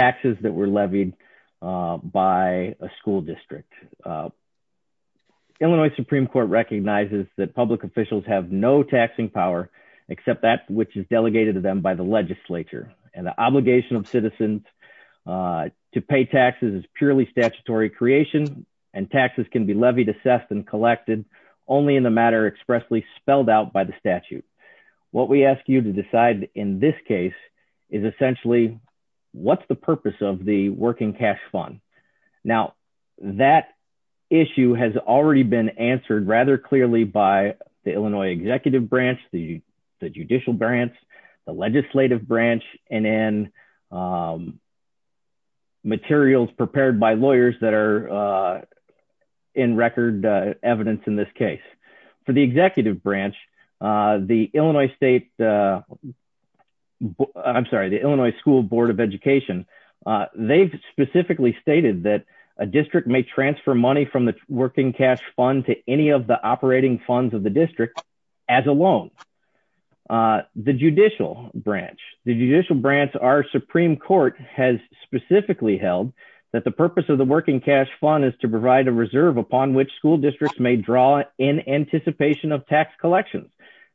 taxes that were levied by a school district. Illinois Supreme Court recognizes that public officials have no taxing power except that which is delegated to them by the legislature, and the obligation of citizens to pay taxes is purely statutory creation, and taxes can be levied, assessed, and collected only in the matter expressly spelled out by the statute. What we ask you to decide in this case is essentially, what's the purpose of the working cash fund? Now, that issue has already been answered rather clearly by the Illinois Executive Branch, the Judicial Branch, the Legislative Branch, and in materials prepared by lawyers that are in record evidence in this case. For the Executive Branch, the Illinois State, I'm sorry, the Illinois School Board of Education, they've specifically stated that a district may transfer money from the working cash fund to any of the operating funds of the district as a loan. The Judicial Branch, the Judicial Branch, our Supreme Court has specifically held that the purpose of the working cash fund is to provide a reserve upon which school districts may draw in anticipation of tax collections.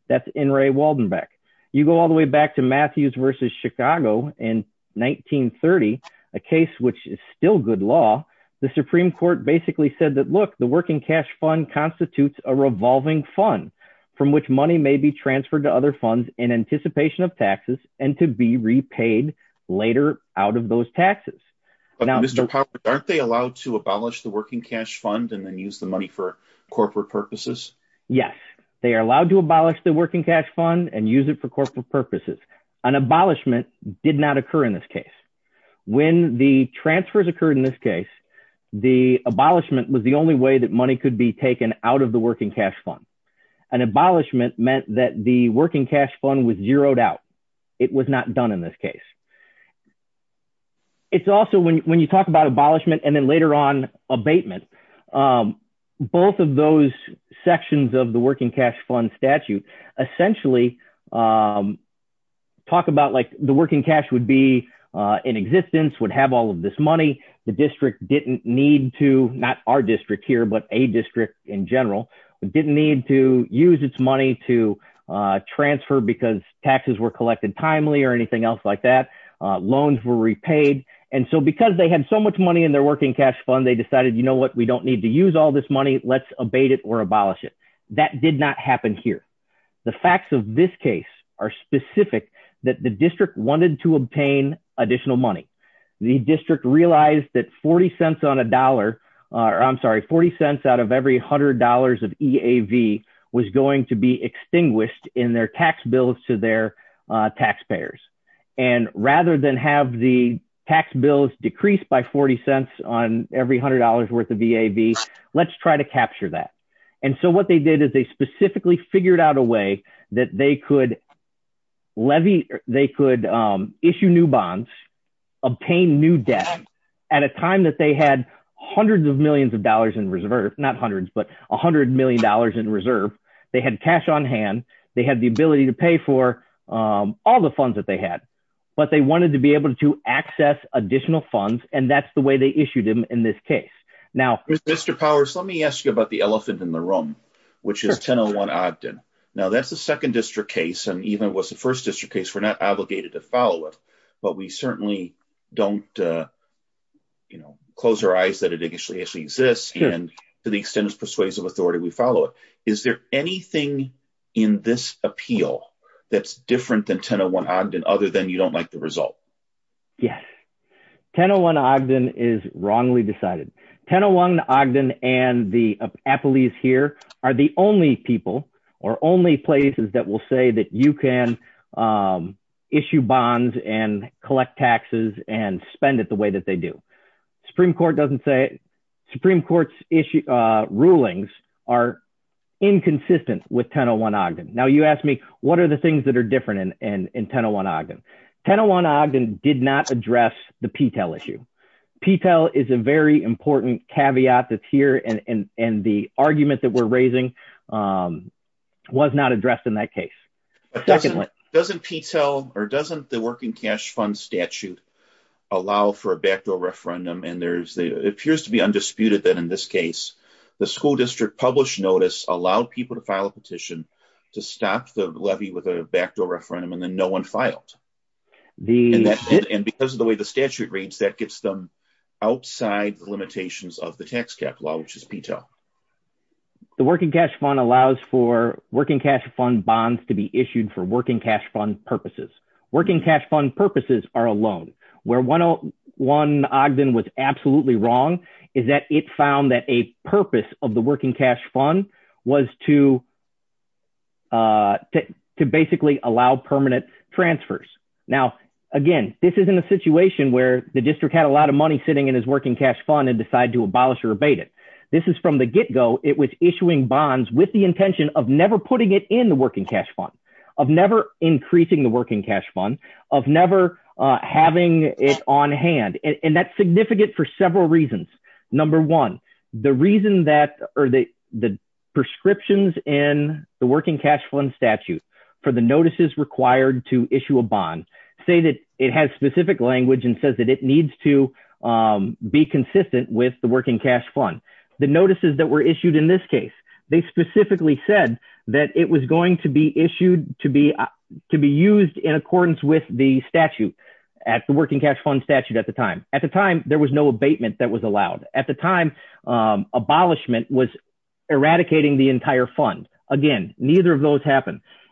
That's N. Ray Waldenbeck. You go all the way back to Matthews v. Chicago in 1930, a case which is still good law, the Supreme Court basically said that, look, the working cash fund constitutes a revolving fund from which money may be transferred to other funds in anticipation of taxes and to be repaid later out of those taxes. But Mr. Popper, aren't they allowed to abolish the working cash fund and then use the money for corporate purposes? Yes, they are allowed to abolish the working cash fund and use it for corporate purposes. An abolishment did not occur in this case. When the transfers occurred in this case, the abolishment was the only way that money could be taken out of the working cash fund. An abolishment meant that the working cash fund was zeroed out. It was not done in this case. It's also, when you talk about abolishment and then later on both of those sections of the working cash fund statute essentially talk about like the working cash would be in existence, would have all of this money. The district didn't need to, not our district here, but a district in general, didn't need to use its money to transfer because taxes were collected timely or anything else like that. Loans were repaid and so because they had so much money in their working cash fund, they decided, you know what, we don't need to use all this money, let's abate it or abolish it. That did not happen here. The facts of this case are specific that the district wanted to obtain additional money. The district realized that 40 cents on a dollar, or I'm sorry, 40 cents out of every hundred dollars of EAV was going to be extinguished in their tax bills to their taxpayers and rather than have the tax bills decreased by 40 cents on every hundred dollars worth of EAV, let's try to capture that. And so what they did is they specifically figured out a way that they could issue new bonds, obtain new debt at a time that they had hundreds of millions of dollars in reserve, not hundreds, but a hundred million dollars in reserve. They had cash on hand, they had the ability to pay for all the funds that they had, but they wanted to be able to access additional funds and that's the way they issued them in this case. Now, Mr. Powers, let me ask you about the elephant in the room, which is 1001 Ogden. Now that's the second district case and even was the first district case, we're not obligated to follow it, but we certainly don't, you know, close our eyes that it actually exists and to the extent it persuades of authority, we follow it. Is there anything in this appeal that's different than 1001 Ogden other than you don't like the result? Yes, 1001 Ogden is wrongly decided. 1001 Ogden and the appellees here are the only people or only places that will say that you can issue bonds and collect taxes and spend it the way that they do. Supreme Court doesn't say, Supreme Court's rulings are inconsistent with 1001 Ogden. Now you ask me what are the things that are inconsistent with 1001 Ogden. 1001 Ogden did not address the P-TEL issue. P-TEL is a very important caveat that's here and and the argument that we're raising was not addressed in that case. Doesn't P-TEL or doesn't the working cash fund statute allow for a backdoor referendum and there's, it appears to be undisputed that in this case, the school district published notice allowed people to file a petition to stop the levy with a backdoor referendum and then no one filed. And because of the way the statute reads, that gets them outside the limitations of the tax cap law which is P-TEL. The working cash fund allows for working cash fund bonds to be issued for working cash fund purposes. Working cash fund purposes are alone. Where 1001 Ogden was absolutely wrong is that it found that a transfers. Now again, this isn't a situation where the district had a lot of money sitting in his working cash fund and decide to abolish or abate it. This is from the get-go. It was issuing bonds with the intention of never putting it in the working cash fund, of never increasing the working cash fund, of never having it on hand and that's significant for several reasons. Number one, the reason that or the the prescriptions in the working cash fund statute for the notices required to issue a bond say that it has specific language and says that it needs to be consistent with the working cash fund. The notices that were issued in this case, they specifically said that it was going to be issued to be to be used in accordance with the statute at the working cash fund statute at the time. At the time, there was no abatement that was allowed. At the time, abolishment was eradicating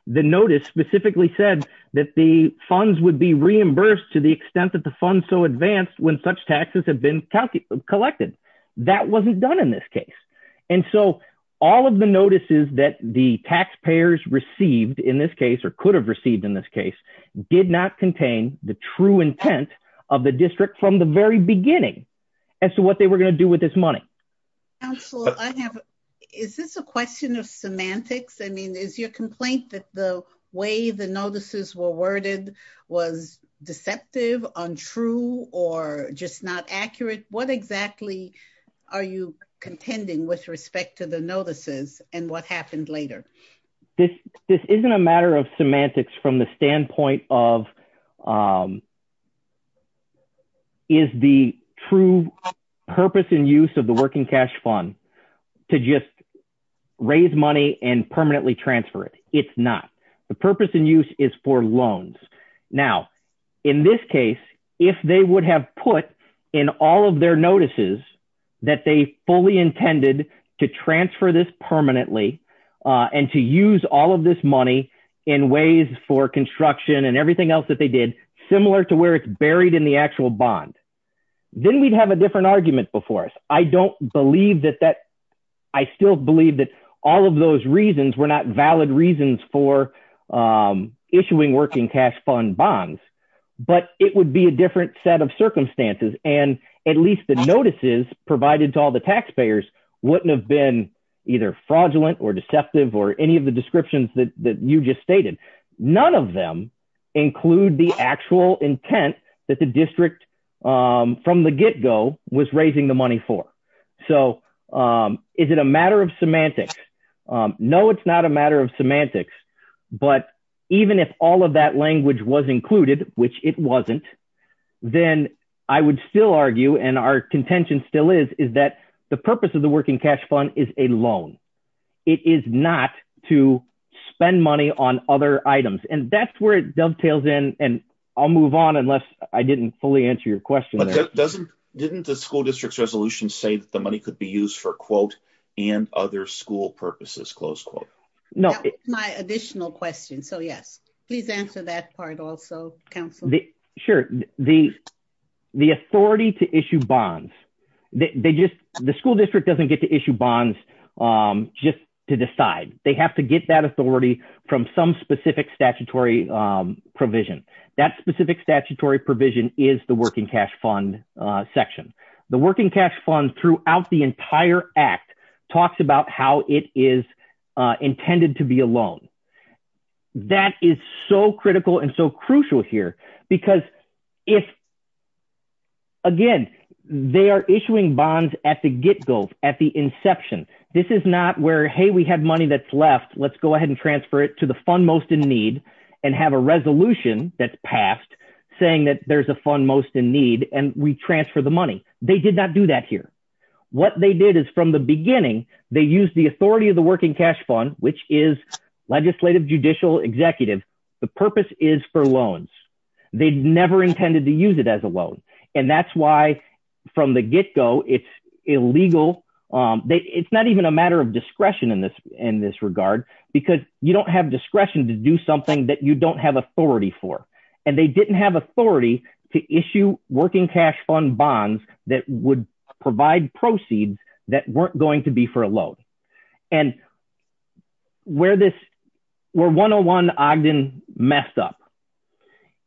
the notice specifically said that the funds would be reimbursed to the extent that the funds so advanced when such taxes have been collected. That wasn't done in this case and so all of the notices that the taxpayers received in this case or could have received in this case did not contain the true intent of the district from the very beginning as to what they were going to do with this money. Council, I have is this a question of semantics? I mean is your complaint that the way the notices were worded was deceptive, untrue, or just not accurate? What exactly are you contending with respect to the notices and what happened later? This isn't a matter of semantics from the standpoint of is the true purpose and use of the working cash fund to just raise money and permanently transfer it. It's not. The purpose and use is for loans. Now in this case if they would have put in all of their notices that they fully intended to transfer this permanently and to use all of this money in ways for construction and everything else that they did similar to where it's buried in the actual bond, then we'd have a different argument before us. I don't believe that that I still believe that all of those reasons were not valid reasons for issuing working cash fund bonds, but it would be a different set of circumstances and at least the notices provided to all the taxpayers wouldn't have been either fraudulent or deceptive or any of the descriptions that you just stated. None of them include the actual intent that the district from the get-go was raising the money for. So is it a matter of semantics? No it's not a matter of semantics, but even if all of that language was included, which it wasn't, then I would still argue and our contention still is is that the purpose of the working cash fund is a loan. It is not to spend money on other items and that's where it dovetails in and I'll move on unless I didn't fully answer your question. Didn't the school district's resolution say that the money could be used for quote and other school purposes close quote? No it's my additional question so yes please answer that part also council. Sure the the authority to issue bonds they just the school district doesn't get to issue bonds just to decide. They have to get that authority from some specific statutory provision. That specific statutory provision is the working cash fund section. The working cash fund throughout the entire act talks about how it is intended to be a loan. That is so critical and so crucial here because if again they are issuing bonds at the get-go at the inception. This is not where hey we have money that's left let's go ahead and transfer it to the fund most in need and have a resolution that's passed saying that there's a fund most in need and we transfer the money. They did not do that here. What they did is from the beginning they used the authority of the working cash fund which is legislative judicial executive. The purpose is for loans. They never intended to use it as a loan and that's why from the get-go it's illegal. It's not even a matter of discretion in this in this regard because you don't have discretion to do something that you don't have authority for and they didn't have authority to issue working cash fund bonds that would provide proceeds that weren't going to be for a loan and where this where 101 Ogden messed up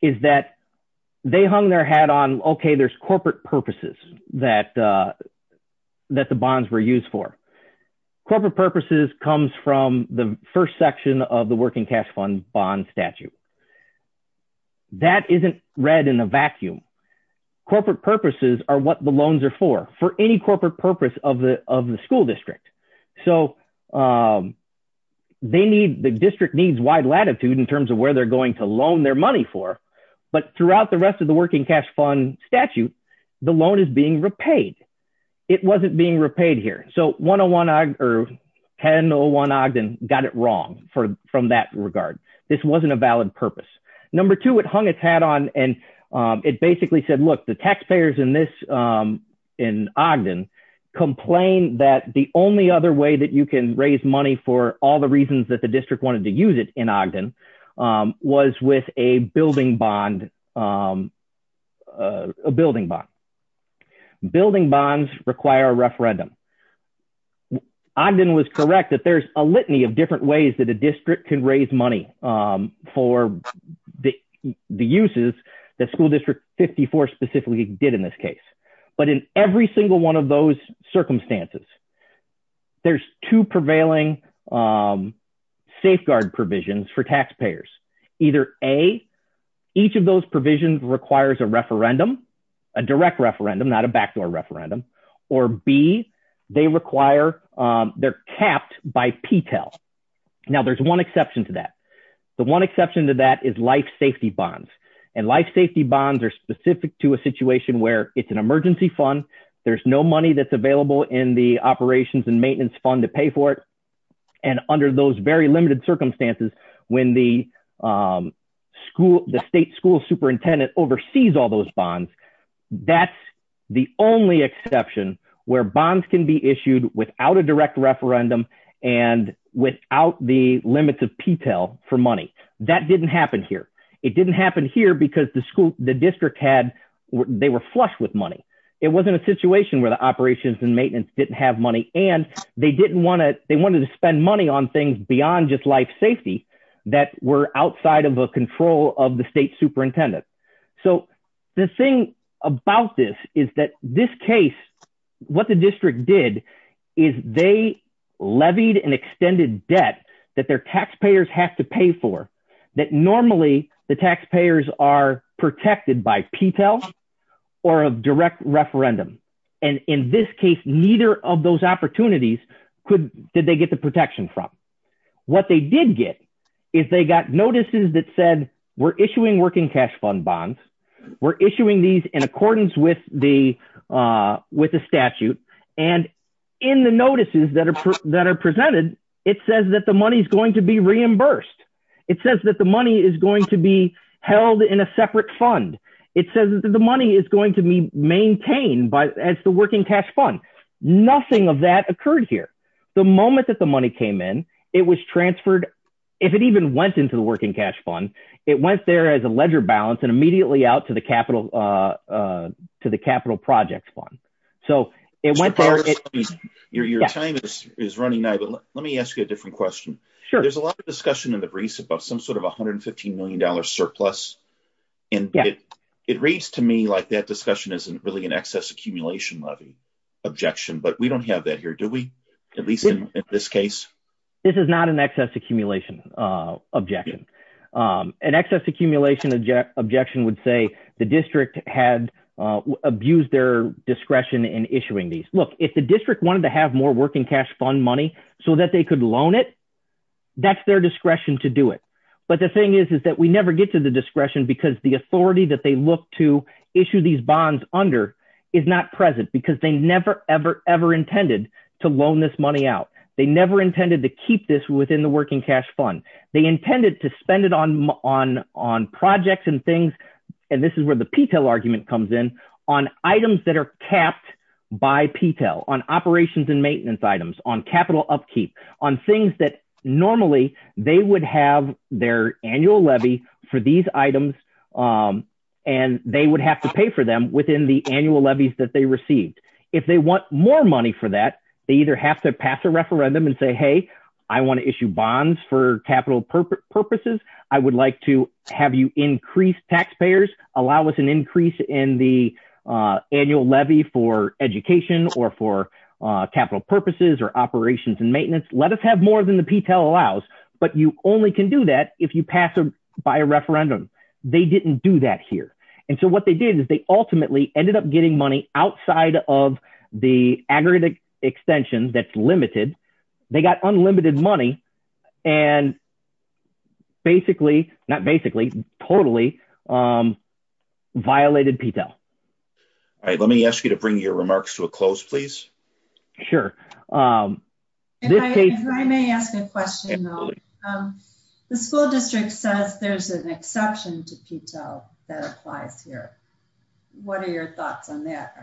is that they hung their hat on okay there's corporate purposes that that the bonds were used for. Corporate purposes comes from the first section of the working cash fund bond statute. That isn't read in a vacuum. Corporate purposes are what the loans are for any corporate purpose of the of the school district. So they need the district needs wide latitude in terms of where they're going to loan their money for but throughout the rest of the working cash fund statute the loan is being repaid. It wasn't being repaid here. So 101 Ogden got it wrong from that regard. This wasn't a valid purpose. Number two it hung its hat on and it basically said look the taxpayers in in Ogden complained that the only other way that you can raise money for all the reasons that the district wanted to use it in Ogden was with a building bond a building bond. Building bonds require a referendum. Ogden was correct that there's a litany of different ways that a district can raise money for the uses that school district 54 specifically did in this case. But in every single one of those circumstances there's two prevailing safeguard provisions for taxpayers. Either a each of those provisions requires a referendum a direct referendum not a backdoor referendum or b they require they're capped by p-tel. Now there's one exception to that the one exception to that is life safety bonds and life safety bonds are specific to a situation where it's an emergency fund there's no money that's available in the operations and maintenance fund to pay for it and under those very limited circumstances when the school the state school superintendent oversees all those bonds that's the only exception where bonds can be issued without a direct referendum and without the limits of p-tel for money. That didn't happen here it didn't happen here because the school the district had they were flush with money it wasn't a situation where the operations and maintenance didn't have money and they didn't want to they wanted to spend money on things beyond just life safety that were outside of a control of the state superintendent. So the thing about this is that this case what the district did is they levied an extended debt that their taxpayers have to pay for that normally the taxpayers are protected by p-tel or a direct referendum and in this case neither of those opportunities could did they get the protection from. What they did get is they got notices that said we're issuing working cash fund bonds we're issuing these in accordance with the uh with the statute and in the notices that are that are presented it says that the money is going to be reimbursed it says that the money is going to be held in a separate fund it says the money is going to be maintained but as the working cash fund nothing of that occurred here the moment that the money came in it was transferred if it even went into the working cash fund it went there as a ledger balance and immediately out to the capital uh uh to the capital projects fund so it went there your time is running now but let me ask you a different question sure there's a lot of discussion in the breeze about some sort of 115 million dollar surplus and it it reads to me like that discussion isn't really an excess accumulation levy objection but we don't have that here do we at least in this case this is not an excess accumulation uh objection um an excess accumulation objection would say the district had abused their wanted to have more working cash fund money so that they could loan it that's their discretion to do it but the thing is is that we never get to the discretion because the authority that they look to issue these bonds under is not present because they never ever ever intended to loan this money out they never intended to keep this within the working cash fund they intended to spend it on on on projects and things and this is where the petal argument comes in on items that are capped by petal on operations and maintenance items on capital upkeep on things that normally they would have their annual levy for these items and they would have to pay for them within the annual levies that they received if they want more money for that they either have to pass a referendum and say hey i want to issue bonds for capital purposes i would like to have you increase taxpayers allow us an increase in the annual levy for education or for capital purposes or operations and maintenance let us have more than the petal allows but you only can do that if you pass by a referendum they didn't do that here and so what they did is they ultimately ended up getting money outside of the aggregate extension that's limited they got unlimited money and basically not basically totally um violated petal all right let me ask you to bring your remarks to a close please sure um if i may ask a question though um the school district says there's an exception to petal that applies here what are your thoughts on that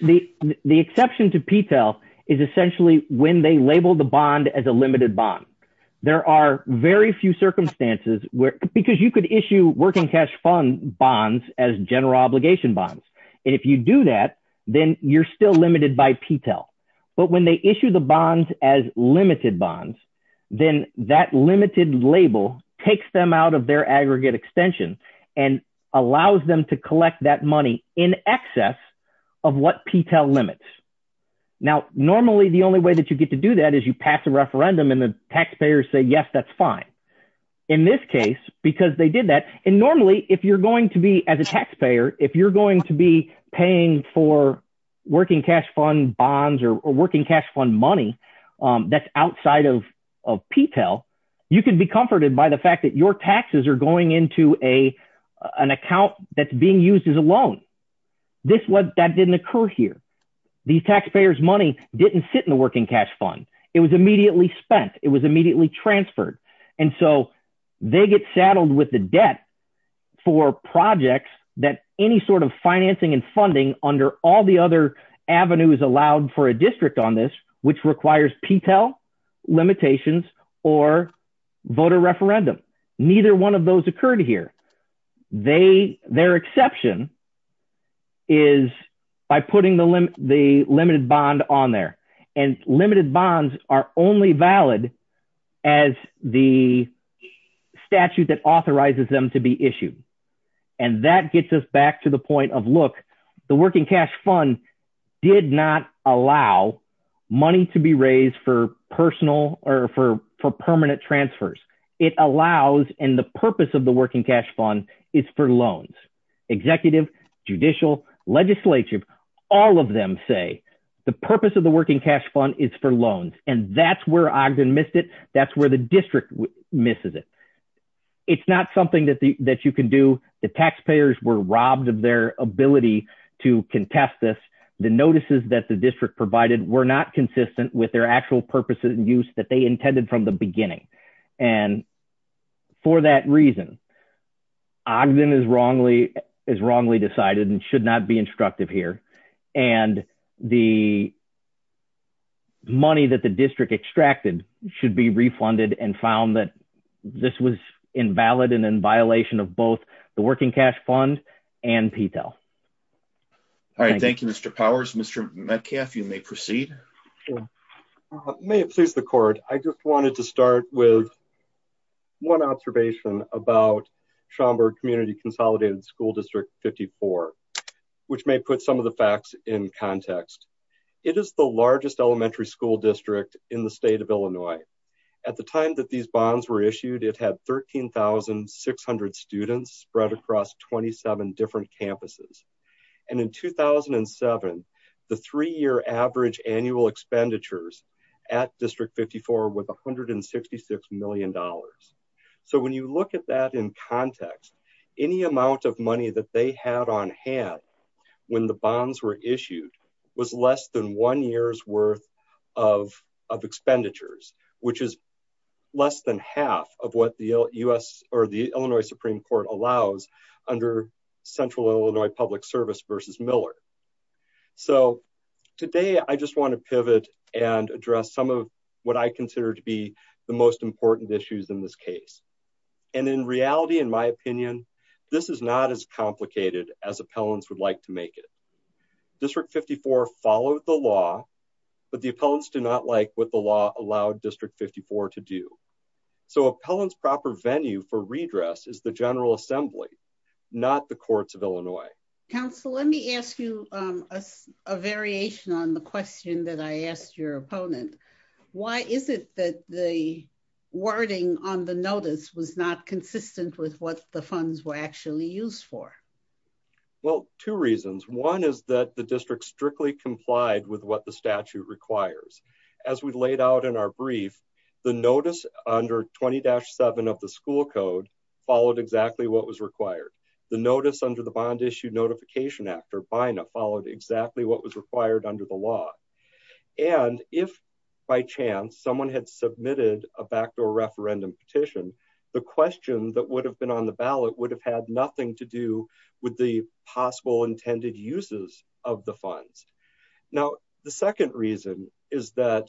the the exception to petal is essentially when they label the bond as a limited bond there are very few circumstances where because you could issue working cash fund bonds as general obligation bonds and if you do that then you're still limited by petal but when they issue the bonds as limited bonds then that limited label takes them out of their aggregate extension and allows them to collect that money in excess of what petal limits now normally the only way that you get to do that is you pass a referendum and the taxpayers say yes that's fine in this case because they did that and normally if you're going to be as a taxpayer if you're going to be paying for working cash fund bonds or working cash fund money um that's outside of of petal you can be comforted by the fact that your taxes are going into a an account that's being used as a loan this what that didn't occur here these taxpayers money didn't sit in the working cash fund it was immediately spent it was immediately transferred and so they get saddled with the debt for projects that any sort of financing and funding under all the other avenues allowed for a district on this which requires petal limitations or voter referendum neither one of those occurred here they their exception is by putting the limit the limited bond on there and limited bonds are only valid as the statute that authorizes them to be issued and that gets us back to the point of look the working cash fund did not allow money to be raised for personal or for for permanent transfers it allows and the purpose of the working cash fund is for loans executive judicial legislature all of them say the purpose of the working cash fund is for loans and that's where ogden missed it that's where the district misses it it's not something that the that you can do the taxpayers were robbed of their ability to contest this the notices that the district provided were not consistent with their actual purposes and use that they intended from the beginning and for that reason ogden is wrongly is wrongly decided and should not be instructive here and the money that the district extracted should be refunded and found that this was invalid and in violation of both the working cash fund and petal all right thank you mr powers mr metcalf you may proceed may it please the court i just wanted to start with one observation about schaumburg community consolidated school district 54 which may put some of the facts in context it is the largest elementary school district in the state of illinois at the time that these bonds were issued it had 13 600 students spread across 27 different campuses and in 2007 the three-year average annual expenditures at district 54 with 166 million dollars so when you look at that in context any amount of money that they had on hand when the bonds were issued was less than one year's worth of of expenditures which is less than half of what the u.s or the public service versus miller so today i just want to pivot and address some of what i consider to be the most important issues in this case and in reality in my opinion this is not as complicated as appellants would like to make it district 54 followed the law but the appellants do not like what the law allowed district 54 to do so appellants proper venue for redress is the general assembly not the courts of illinois council let me ask you a variation on the question that i asked your opponent why is it that the wording on the notice was not consistent with what the funds were actually used for well two reasons one is that the district strictly complied with what the statute requires as we laid out in our brief the notice under 20-7 of the school code followed exactly what was required the notice under the bond issue notification act or bina followed exactly what was required under the law and if by chance someone had submitted a backdoor referendum petition the question that would have been on the ballot would have had nothing to do with the possible intended uses of the funds now the second reason is that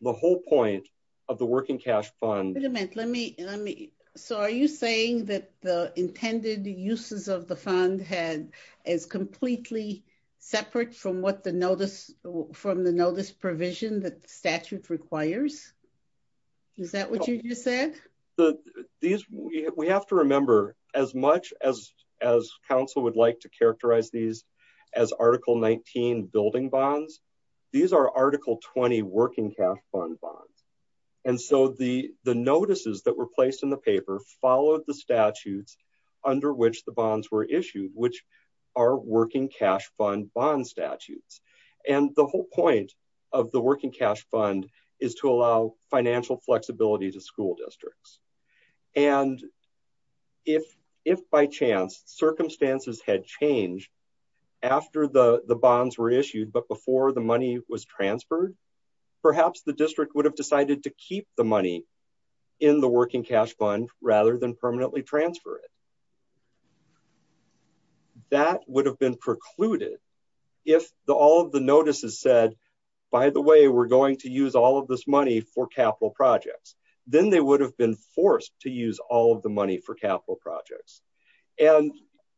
the whole point of the working cash fund wait a minute let me let me so are you saying that the intended uses of the fund had is completely separate from what the notice from the notice provision that the statute requires is that what you just said the these we have to remember as much as as council would like to characterize these as article 19 building bonds these are article 20 working cash fund bonds and so the the notices that were placed in the paper followed the statutes under which the bonds were issued which are working cash fund bond statutes and the whole point of the working cash fund is to allow financial flexibility to school districts and if if by chance circumstances had changed after the the bonds were issued but before the money was transferred perhaps the district would have decided to keep the money in the working cash fund rather than permanently transfer it that would have been precluded if the all of the notices said by the way we're going to use all of this money for capital projects then they would have been forced to use all of the money for capital projects and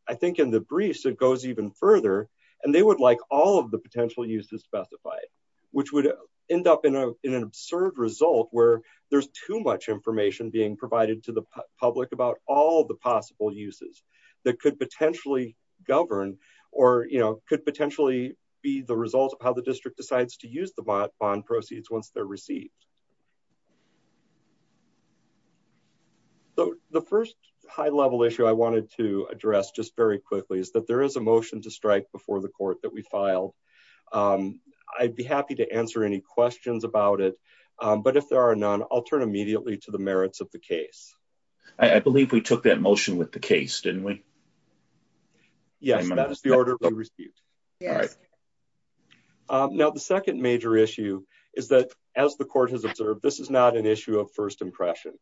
i think in the briefs it goes even further and they would like all of the potential uses specified which would end up in a in an absurd result where there's too much information being provided to the public about all the possible uses that could potentially govern or you know could potentially be the result of how the district decides to use the bond proceeds once they're received so the first high level issue i wanted to address just very quickly is that there is a motion to strike before the court that we filed um i'd be happy to answer any questions about it but if there are none i'll turn immediately to the merits of the case i believe we took that motion with the case didn't we yes that is the order we received all right now the second major issue is that as the court has observed this is not an issue of first impression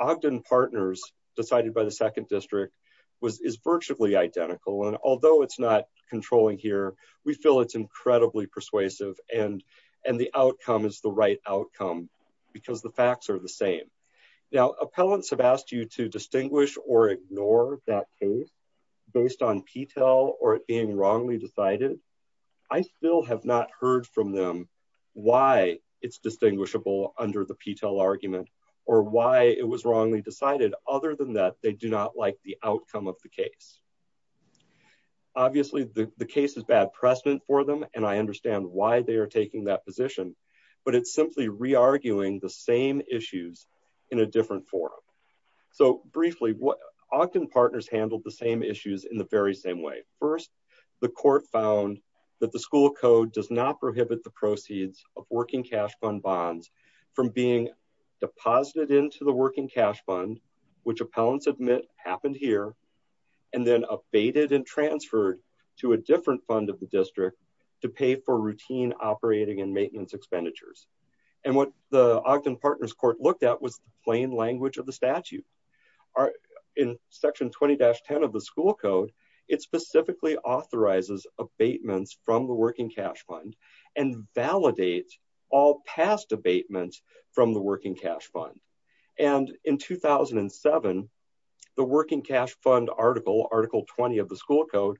ogden partners decided by the second district was is virtually identical and although it's not controlling here we feel it's incredibly persuasive and and the outcome is the right outcome because the facts are the same now appellants have asked you to distinguish or ignore that case based on ptel or it being wrongly decided i still have not heard from them why it's distinguishable under the ptel argument or why it was wrongly decided other than that they do not like the outcome of the case obviously the the case is bad precedent for them and i understand why they are taking that position but it's simply re-arguing the same issues in a different forum so briefly what ogden partners handled the same issues in the very same way first the court found that the school code does not prohibit the proceeds of working cash fund bonds from being deposited into the working cash fund which appellants admit happened here and then abated and transferred to a different fund of the district to pay for routine operating and maintenance expenditures and what the ogden partners court looked at was the plain language of the statute are in section 20-10 of the school code it specifically authorizes abatements from the working cash fund and validates all past abatements from the working cash fund and in 2007 the working cash fund article article 20 of the school code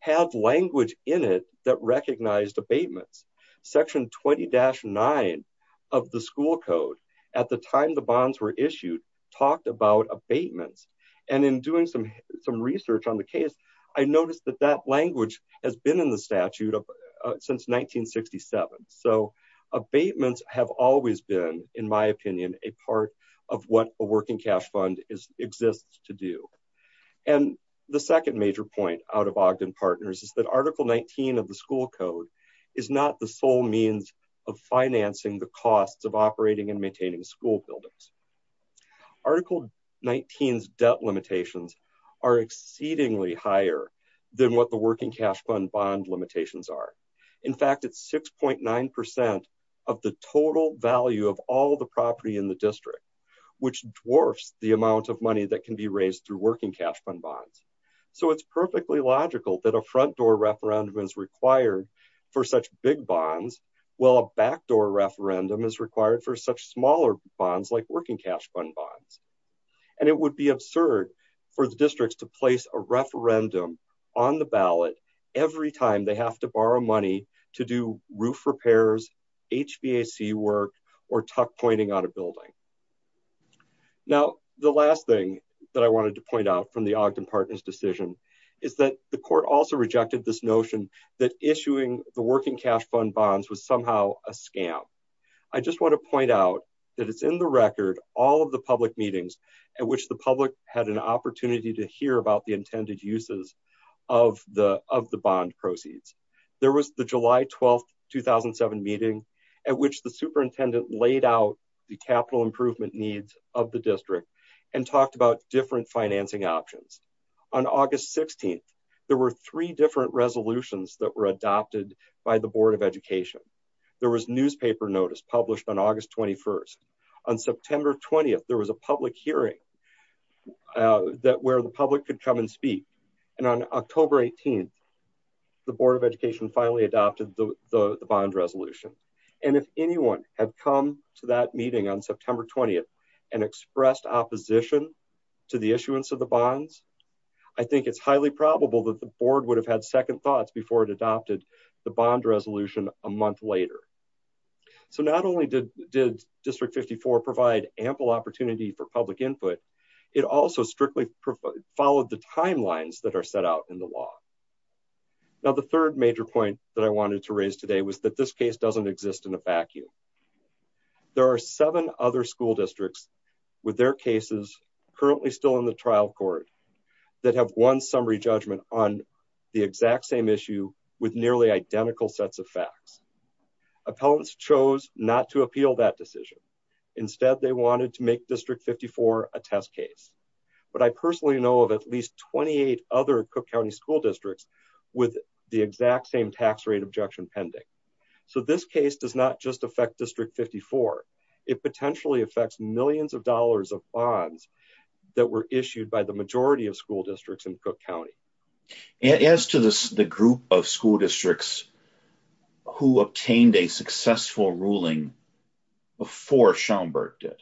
had language in it that recognized abatements section 20-9 of the school code at the time the bonds were issued talked about abatements and in doing some some research on the case i noticed that that language has been in the statute of since 1967 so abatements have always been in my opinion a part of what a working cash fund is exists to do and the second major point out of ogden partners is that article 19 of the school code school buildings article 19's debt limitations are exceedingly higher than what the working cash fund bond limitations are in fact it's 6.9 of the total value of all the property in the district which dwarfs the amount of money that can be raised through working cash fund bonds so it's perfectly logical that a front door referendum is required for such big bonds while a backdoor referendum is required for such smaller bonds like working cash fund bonds and it would be absurd for the districts to place a referendum on the ballot every time they have to borrow money to do roof repairs hvac work or tuck pointing on a building now the last thing that i wanted to point out from the ogden partners decision is that the court also rejected this notion that issuing the working cash fund bonds was somehow a scam i just want to point out that it's in the record all of the public meetings at which the public had an opportunity to hear about the intended uses of the of the bond proceeds there was the july 12th 2007 meeting at which the superintendent laid out the capital improvement needs of the district and talked about different financing options on august 16th there were three different resolutions that were adopted by the board of education there was newspaper notice published on august 21st on september 20th there was a public hearing that where the public could come and speak and on october 18th the board of education finally adopted the the bond resolution and if anyone had come to that meeting on september 20th and expressed opposition to the issuance of the bonds i think it's highly probable that the board would have had second thoughts before it adopted the bond resolution a month later so not only did did district 54 provide ample opportunity for public input it also strictly followed the timelines that are set out in the law now the third major point that i wanted to raise today was that this case doesn't exist in a vacuum there are seven other school districts with their cases currently still in the trial court that have one summary judgment on the exact same issue with nearly identical sets of facts appellants chose not to appeal that decision instead they wanted to make district 54 a test case but i personally know of at least 28 other cook county school districts with the exact same tax rate objection pending so this case does not just affect district 54 it potentially affects millions of dollars of bonds that were issued by the majority of school districts in cook county as to the group of school districts who obtained a successful ruling before schaumburg did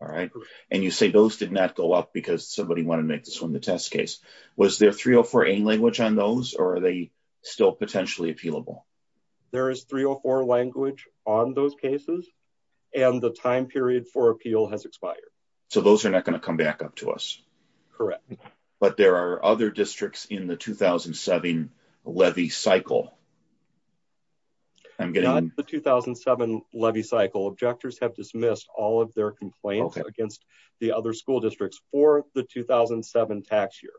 all right and you say those did not go up because somebody wanted to make this one the test case was there 304 a language on those or are they still potentially appealable there is 304 language on those cases and the time period for appeal has expired so those are not going to come back up to us correct but there are other districts in the 2007 levy cycle i'm getting the 2007 levy cycle objectors have dismissed all of their complaints against the other school districts for the 2007 tax year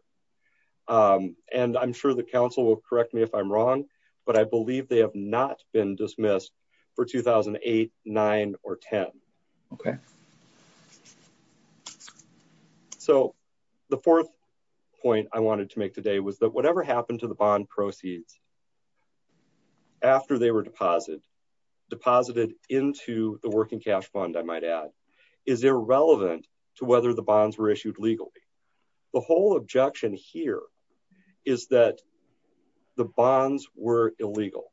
um and i'm sure the council will correct me if i'm wrong but i believe they have not been dismissed for 2008 nine or ten okay so the fourth point i wanted to make today was that whatever happened to the bond proceeds after they were deposited deposited into the working cash fund i might add is irrelevant to whether the bonds were issued legally the whole objection here is that the bonds were illegal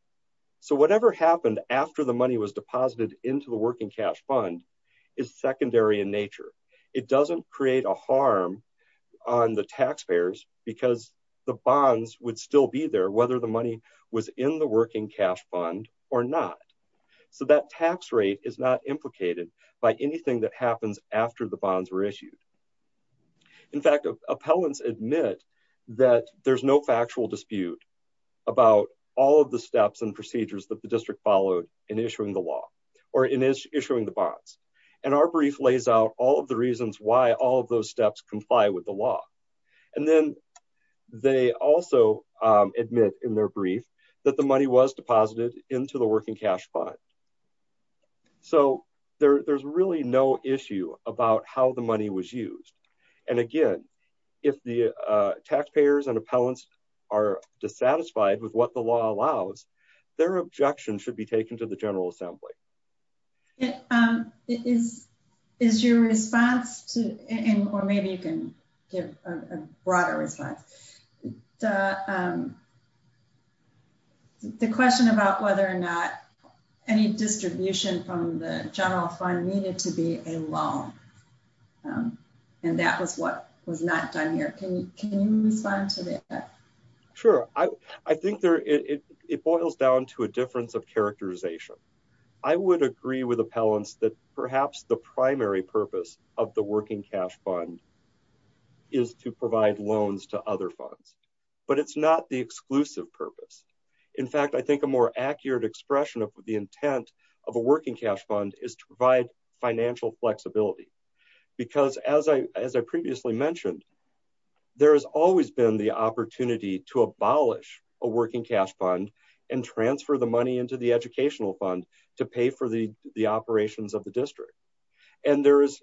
so whatever happened after the money was deposited into the working cash fund is secondary in nature it doesn't create a harm on the taxpayers because the bonds would still be there whether the money was in the working cash fund or not so that tax rate is not implicated by anything that happens after the bonds were issued in fact appellants admit that there's no factual dispute about all of the steps and procedures that the followed in issuing the law or in issuing the bonds and our brief lays out all of the reasons why all of those steps comply with the law and then they also admit in their brief that the money was deposited into the working cash fund so there there's really no issue about how the money was used and again if the taxpayers and appellants are dissatisfied with what the law allows their objection should be taken to the general assembly is is your response to and or maybe you can give a broader response the question about whether or not any distribution from the general fund needed to be a loan and that was what was not done here can you respond to that sure i i think there it it boils down to a difference of characterization i would agree with appellants that perhaps the primary purpose of the working cash fund is to provide loans to other funds but it's not the exclusive purpose in fact i think a more accurate expression of the intent of a working cash fund is to provide financial flexibility because as i as i previously mentioned there has always been the opportunity to abolish a working cash fund and transfer the money into the educational fund to pay for the the operations of the district and there is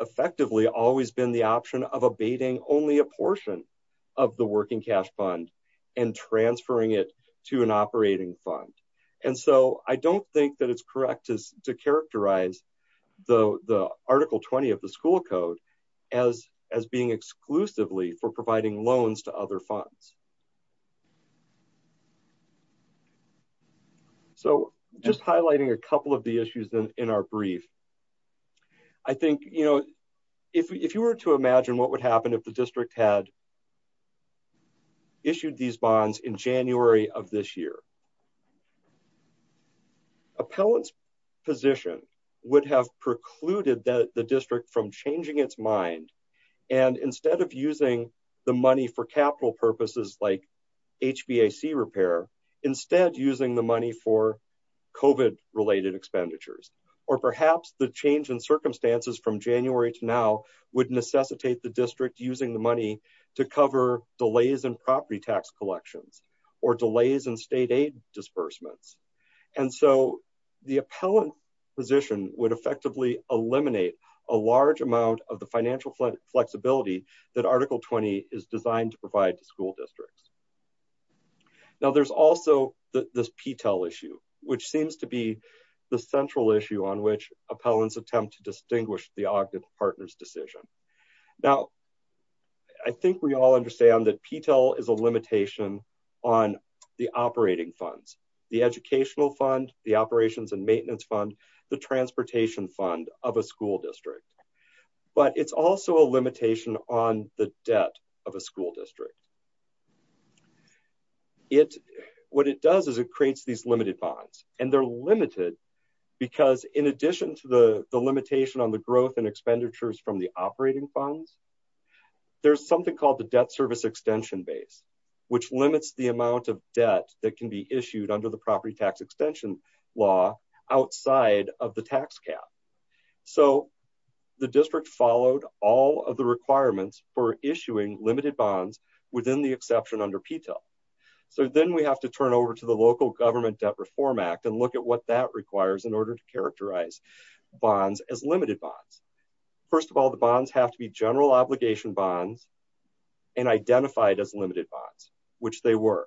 effectively always been the option of abating only a portion of the working cash fund and transferring it to an operating fund and so i don't think that it's correct to characterize the the article 20 of the school code as as being exclusively for providing loans to other funds so just highlighting a couple of the issues in our brief i think you know if you were to imagine what would happen if the district had issued these bonds in january of this year what would happen appellants position would have precluded that the district from changing its mind and instead of using the money for capital purposes like hbac repair instead using the money for covid related expenditures or perhaps the change in circumstances from january to now would necessitate the district using the money to cover delays in property tax collections or delays in state aid disbursements and so the appellant position would effectively eliminate a large amount of the financial flexibility that article 20 is designed to provide to school districts now there's also this p-tel issue which seems to be the central issue on which appellants attempt to distinguish the ogden partners decision now i think we all understand that p-tel is a limitation on the operating funds the educational fund the operations and maintenance fund the transportation fund of a school district but it's also a limitation on the debt of a school district it what it does is it creates these limited bonds and they're limited because in addition to the the limitation on the growth and expenditures from the operating funds there's something called the debt service extension base which limits the amount of debt that can be issued under the property tax extension law outside of the tax cap so the district followed all of the requirements for issuing limited bonds within the exception under p-tel so then we have to turn over to the order to characterize bonds as limited bonds first of all the bonds have to be general obligation bonds and identified as limited bonds which they were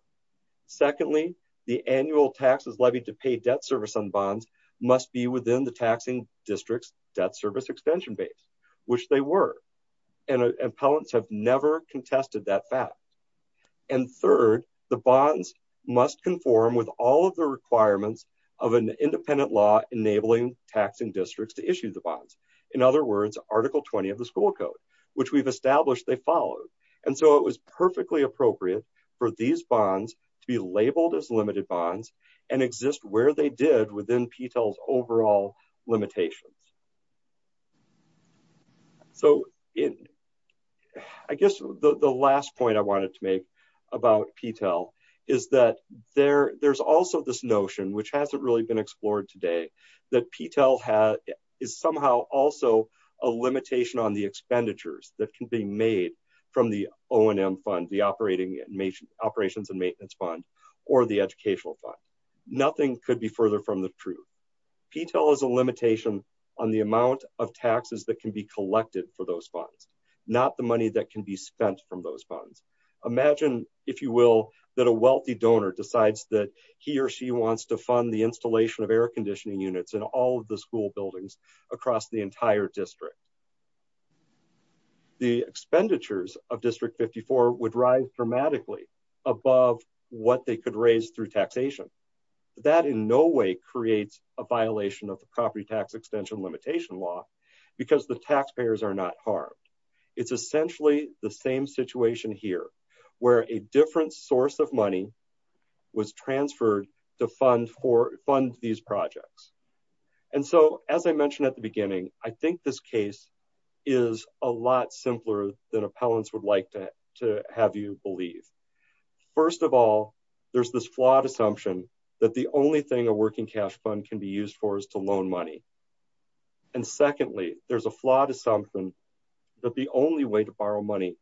secondly the annual taxes levied to pay debt service on bonds must be within the taxing district's debt service extension base which they were and appellants have never contested that fact and third the bonds must conform with all of the independent law enabling taxing districts to issue the bonds in other words article 20 of the school code which we've established they followed and so it was perfectly appropriate for these bonds to be labeled as limited bonds and exist where they did within p-tel's overall limitations so in i guess the the last point i wanted to make about p-tel is that there there's also this notion which hasn't really been explored today that p-tel has is somehow also a limitation on the expenditures that can be made from the onm fund the operating and operations and maintenance fund or the educational fund nothing could be further from the truth p-tel is a limitation on the amount of taxes that can be collected for those funds not the money that can be spent from those funds imagine if you will that a wealthy donor decides that he or she wants to fund the installation of air conditioning units in all of the school buildings across the entire district the expenditures of district 54 would ride dramatically above what they could raise through taxation that in no way creates a violation of the property tax extension limitation law because the taxpayers are not harmed was transferred to fund for fund these projects and so as i mentioned at the beginning i think this case is a lot simpler than appellants would like to to have you believe first of all there's this flawed assumption that the only thing a working cash fund can be used for is to loan money and secondly there's a flawed assumption that the only way to borrow money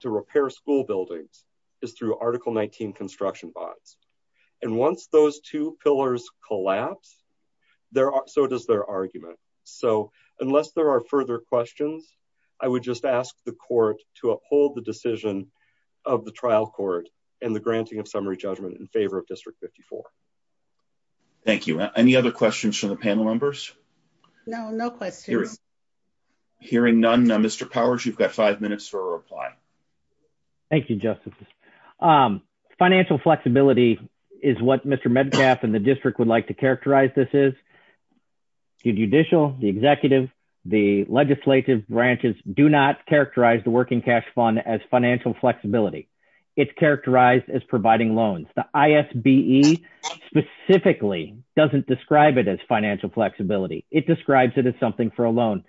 to repair school buildings is through article 19 construction bonds and once those two pillars collapse there are so does their argument so unless there are further questions i would just ask the court to uphold the decision of the trial court and the granting of summary judgment in favor of district 54 thank you any other questions from the panel members no no question hearing none now mr powers you've got five minutes for a financial flexibility is what mr medcalf and the district would like to characterize this is the judicial the executive the legislative branches do not characterize the working cash fund as financial flexibility it's characterized as providing loans the isbe specifically doesn't describe it as financial flexibility it describes it as something for a loan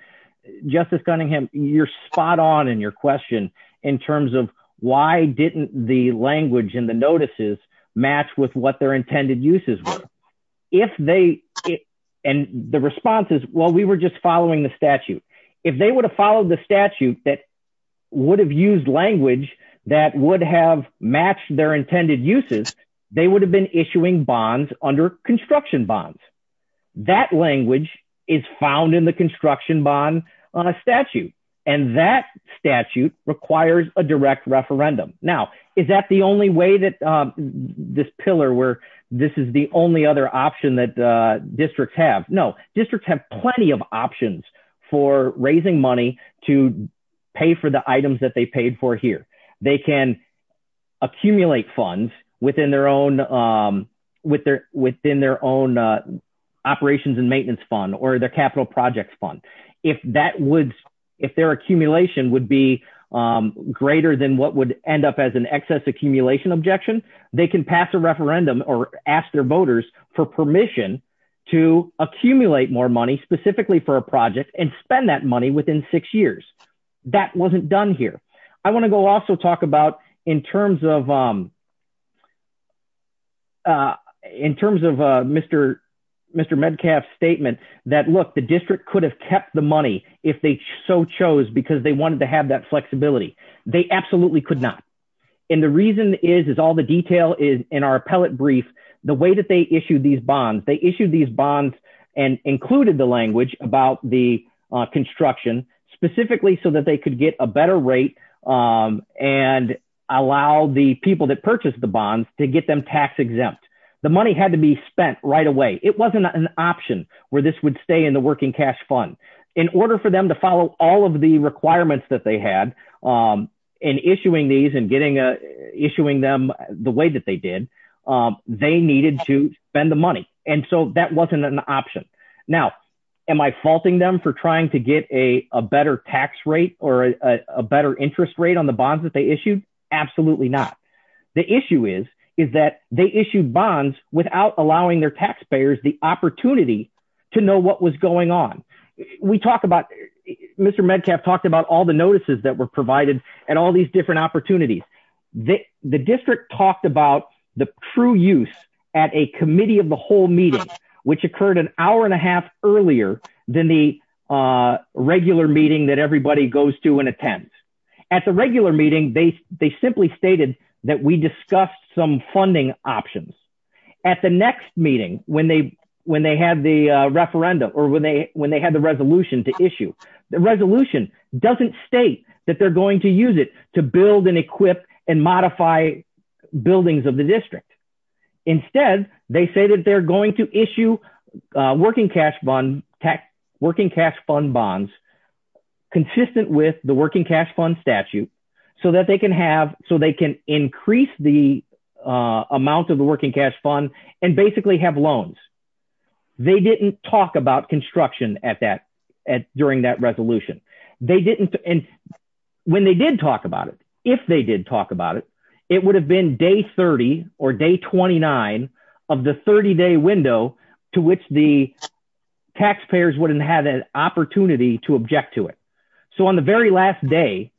justice cunningham you're spot on in your question in terms of why didn't the language and the notices match with what their intended uses were if they and the response is well we were just following the statute if they would have followed the statute that would have used language that would have matched their intended uses they would have been issuing bonds under construction bonds that language is found in the construction bond on a statute and that statute requires a direct referendum now is that the only way that um this pillar where this is the only other option that uh districts have no districts have plenty of options for raising money to pay for the items that they paid for here they can accumulate funds within their own um with their within their own uh operations and maintenance fund or their would if their accumulation would be um greater than what would end up as an excess accumulation objection they can pass a referendum or ask their voters for permission to accumulate more money specifically for a project and spend that money within six years that wasn't done here i want to go also talk about in terms of um uh in terms of uh mr mr medcalf statement that look the district could have kept the money if they so chose because they wanted to have that flexibility they absolutely could not and the reason is is all the detail is in our appellate brief the way that they issued these bonds they issued these bonds and included the language about the construction specifically so that they could get a better rate um and allow the people that purchased the bonds to get them tax exempt the money had to be spent right away it wasn't an option where this would stay in the working cash fund in order for them to follow all of the requirements that they had um in issuing these and getting a issuing them the way that they did um they needed to spend the money and so that wasn't an option now am i faulting them for trying to get a a better tax rate or a better interest rate on the bonds that they issued absolutely not the issue is is that they issued bonds without allowing their taxpayers the opportunity to know what was going on we talked about mr medcalf talked about all the notices that were provided and all these different opportunities the the district talked about the true use at a committee of the whole meeting which occurred an hour and a half earlier than the uh regular meeting that everybody goes to and attends at the regular meeting they they simply stated that we discussed some funding options at the next meeting when they when they had the uh referendum or when they when they had the resolution to issue the resolution doesn't state that they're going to use it to build and equip and modify buildings of the district instead they say that they're going to issue uh working cash bond tax working cash fund bonds consistent with the working cash fund statute so that they can have so they can increase the uh amount of the working cash fund and basically have loans they didn't talk about construction at that at during that resolution they didn't and when they did talk about it if they did talk about it it would have been day 30 or day 29 of the 30-day window to which the taxpayers wouldn't have an opportunity to object to it so on the very last day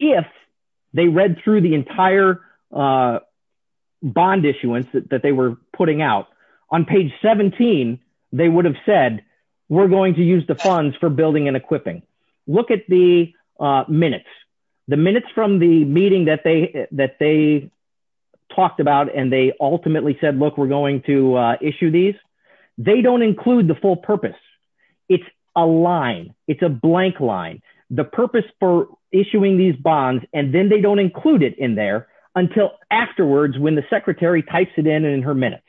if they read through the entire uh bond issuance that they were putting out on page 17 they would have said we're going to use the funds for building and equipping look at the uh minutes the minutes from the meeting that they that they talked about and they ultimately said look we're going to uh issue these they don't include the full purpose it's a line it's a blank line the purpose for issuing these bonds and then they don't include it in there until afterwards when the secretary types it in in her minutes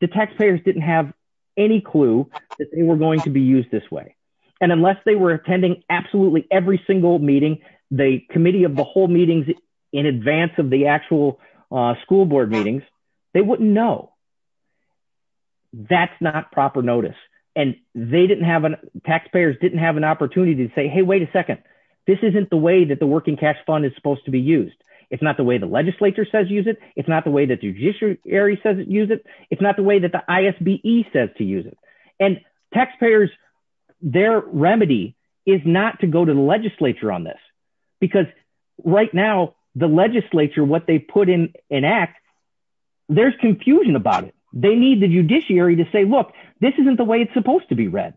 the taxpayers didn't have any clue that they were going to be used this way and unless they were attending absolutely every single meeting the committee of the whole meetings in advance of the actual uh school board meetings they wouldn't know that's not proper notice and they didn't have a taxpayers didn't have an opportunity to say hey wait a second this isn't the way that the working cash fund is supposed to be used it's not the way the legislature says use it it's not the way that the judiciary says use it it's not the way that the isbe says to use it and taxpayers their remedy is not to go to the legislature on this because right now the legislature what they put in an act there's confusion about it they need the judiciary to say look this isn't the way it's supposed to be read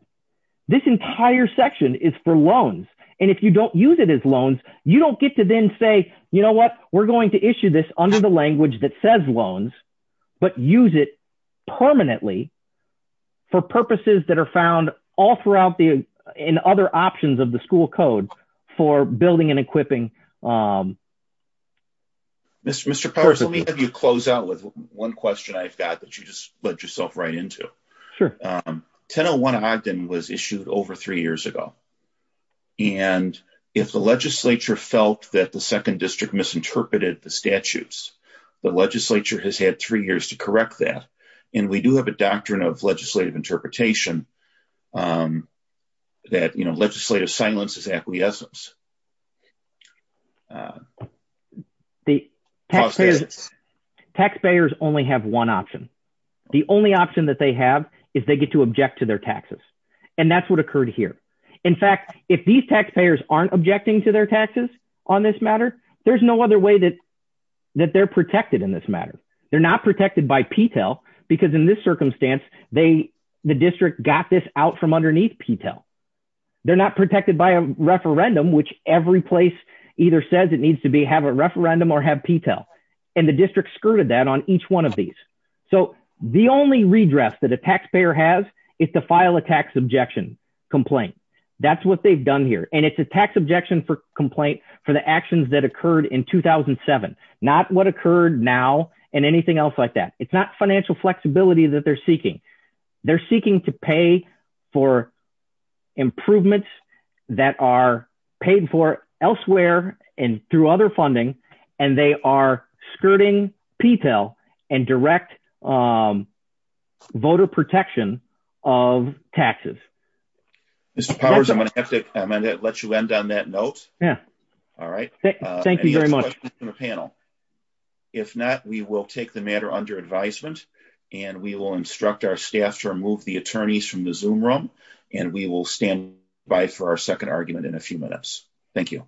this entire section is for loans and if you don't use it as loans you don't get to then say you know what we're going to issue this under the language that says loans but use it permanently for purposes that are found all throughout the and other options of the school code for building and equipping um mr mr powers let me have you close out with one question i've got that you just let yourself right into sure um 1001 ogden was issued over three years ago and if the legislature felt that the second district misinterpreted the statutes the legislature has had three years to correct that and we do have a doctrine of legislative interpretation um that you know legislative silence is the essence the taxpayers taxpayers only have one option the only option that they have is they get to object to their taxes and that's what occurred here in fact if these taxpayers aren't objecting to their taxes on this matter there's no other way that that they're protected in this matter they're not protected by p-tel because in this circumstance they the district got this out from underneath p-tel they're not protected by a referendum which every place either says it needs to be have a referendum or have p-tel and the district skirted that on each one of these so the only redress that a taxpayer has is to file a tax objection complaint that's what they've done here and it's a tax objection for complaint for the actions that occurred in 2007 not what occurred now and anything else like that it's not financial flexibility that they're seeking they're seeking to pay for improvements that are paid for elsewhere and through other funding and they are skirting p-tel and direct um voter protection of taxes mr powers i'm gonna have to let you end on that note yeah all right thank you very much in a panel if not we will take the matter under advisement and we will instruct our staff to remove the attorneys from the zoom room and we will stand by for our second argument in a few minutes thank you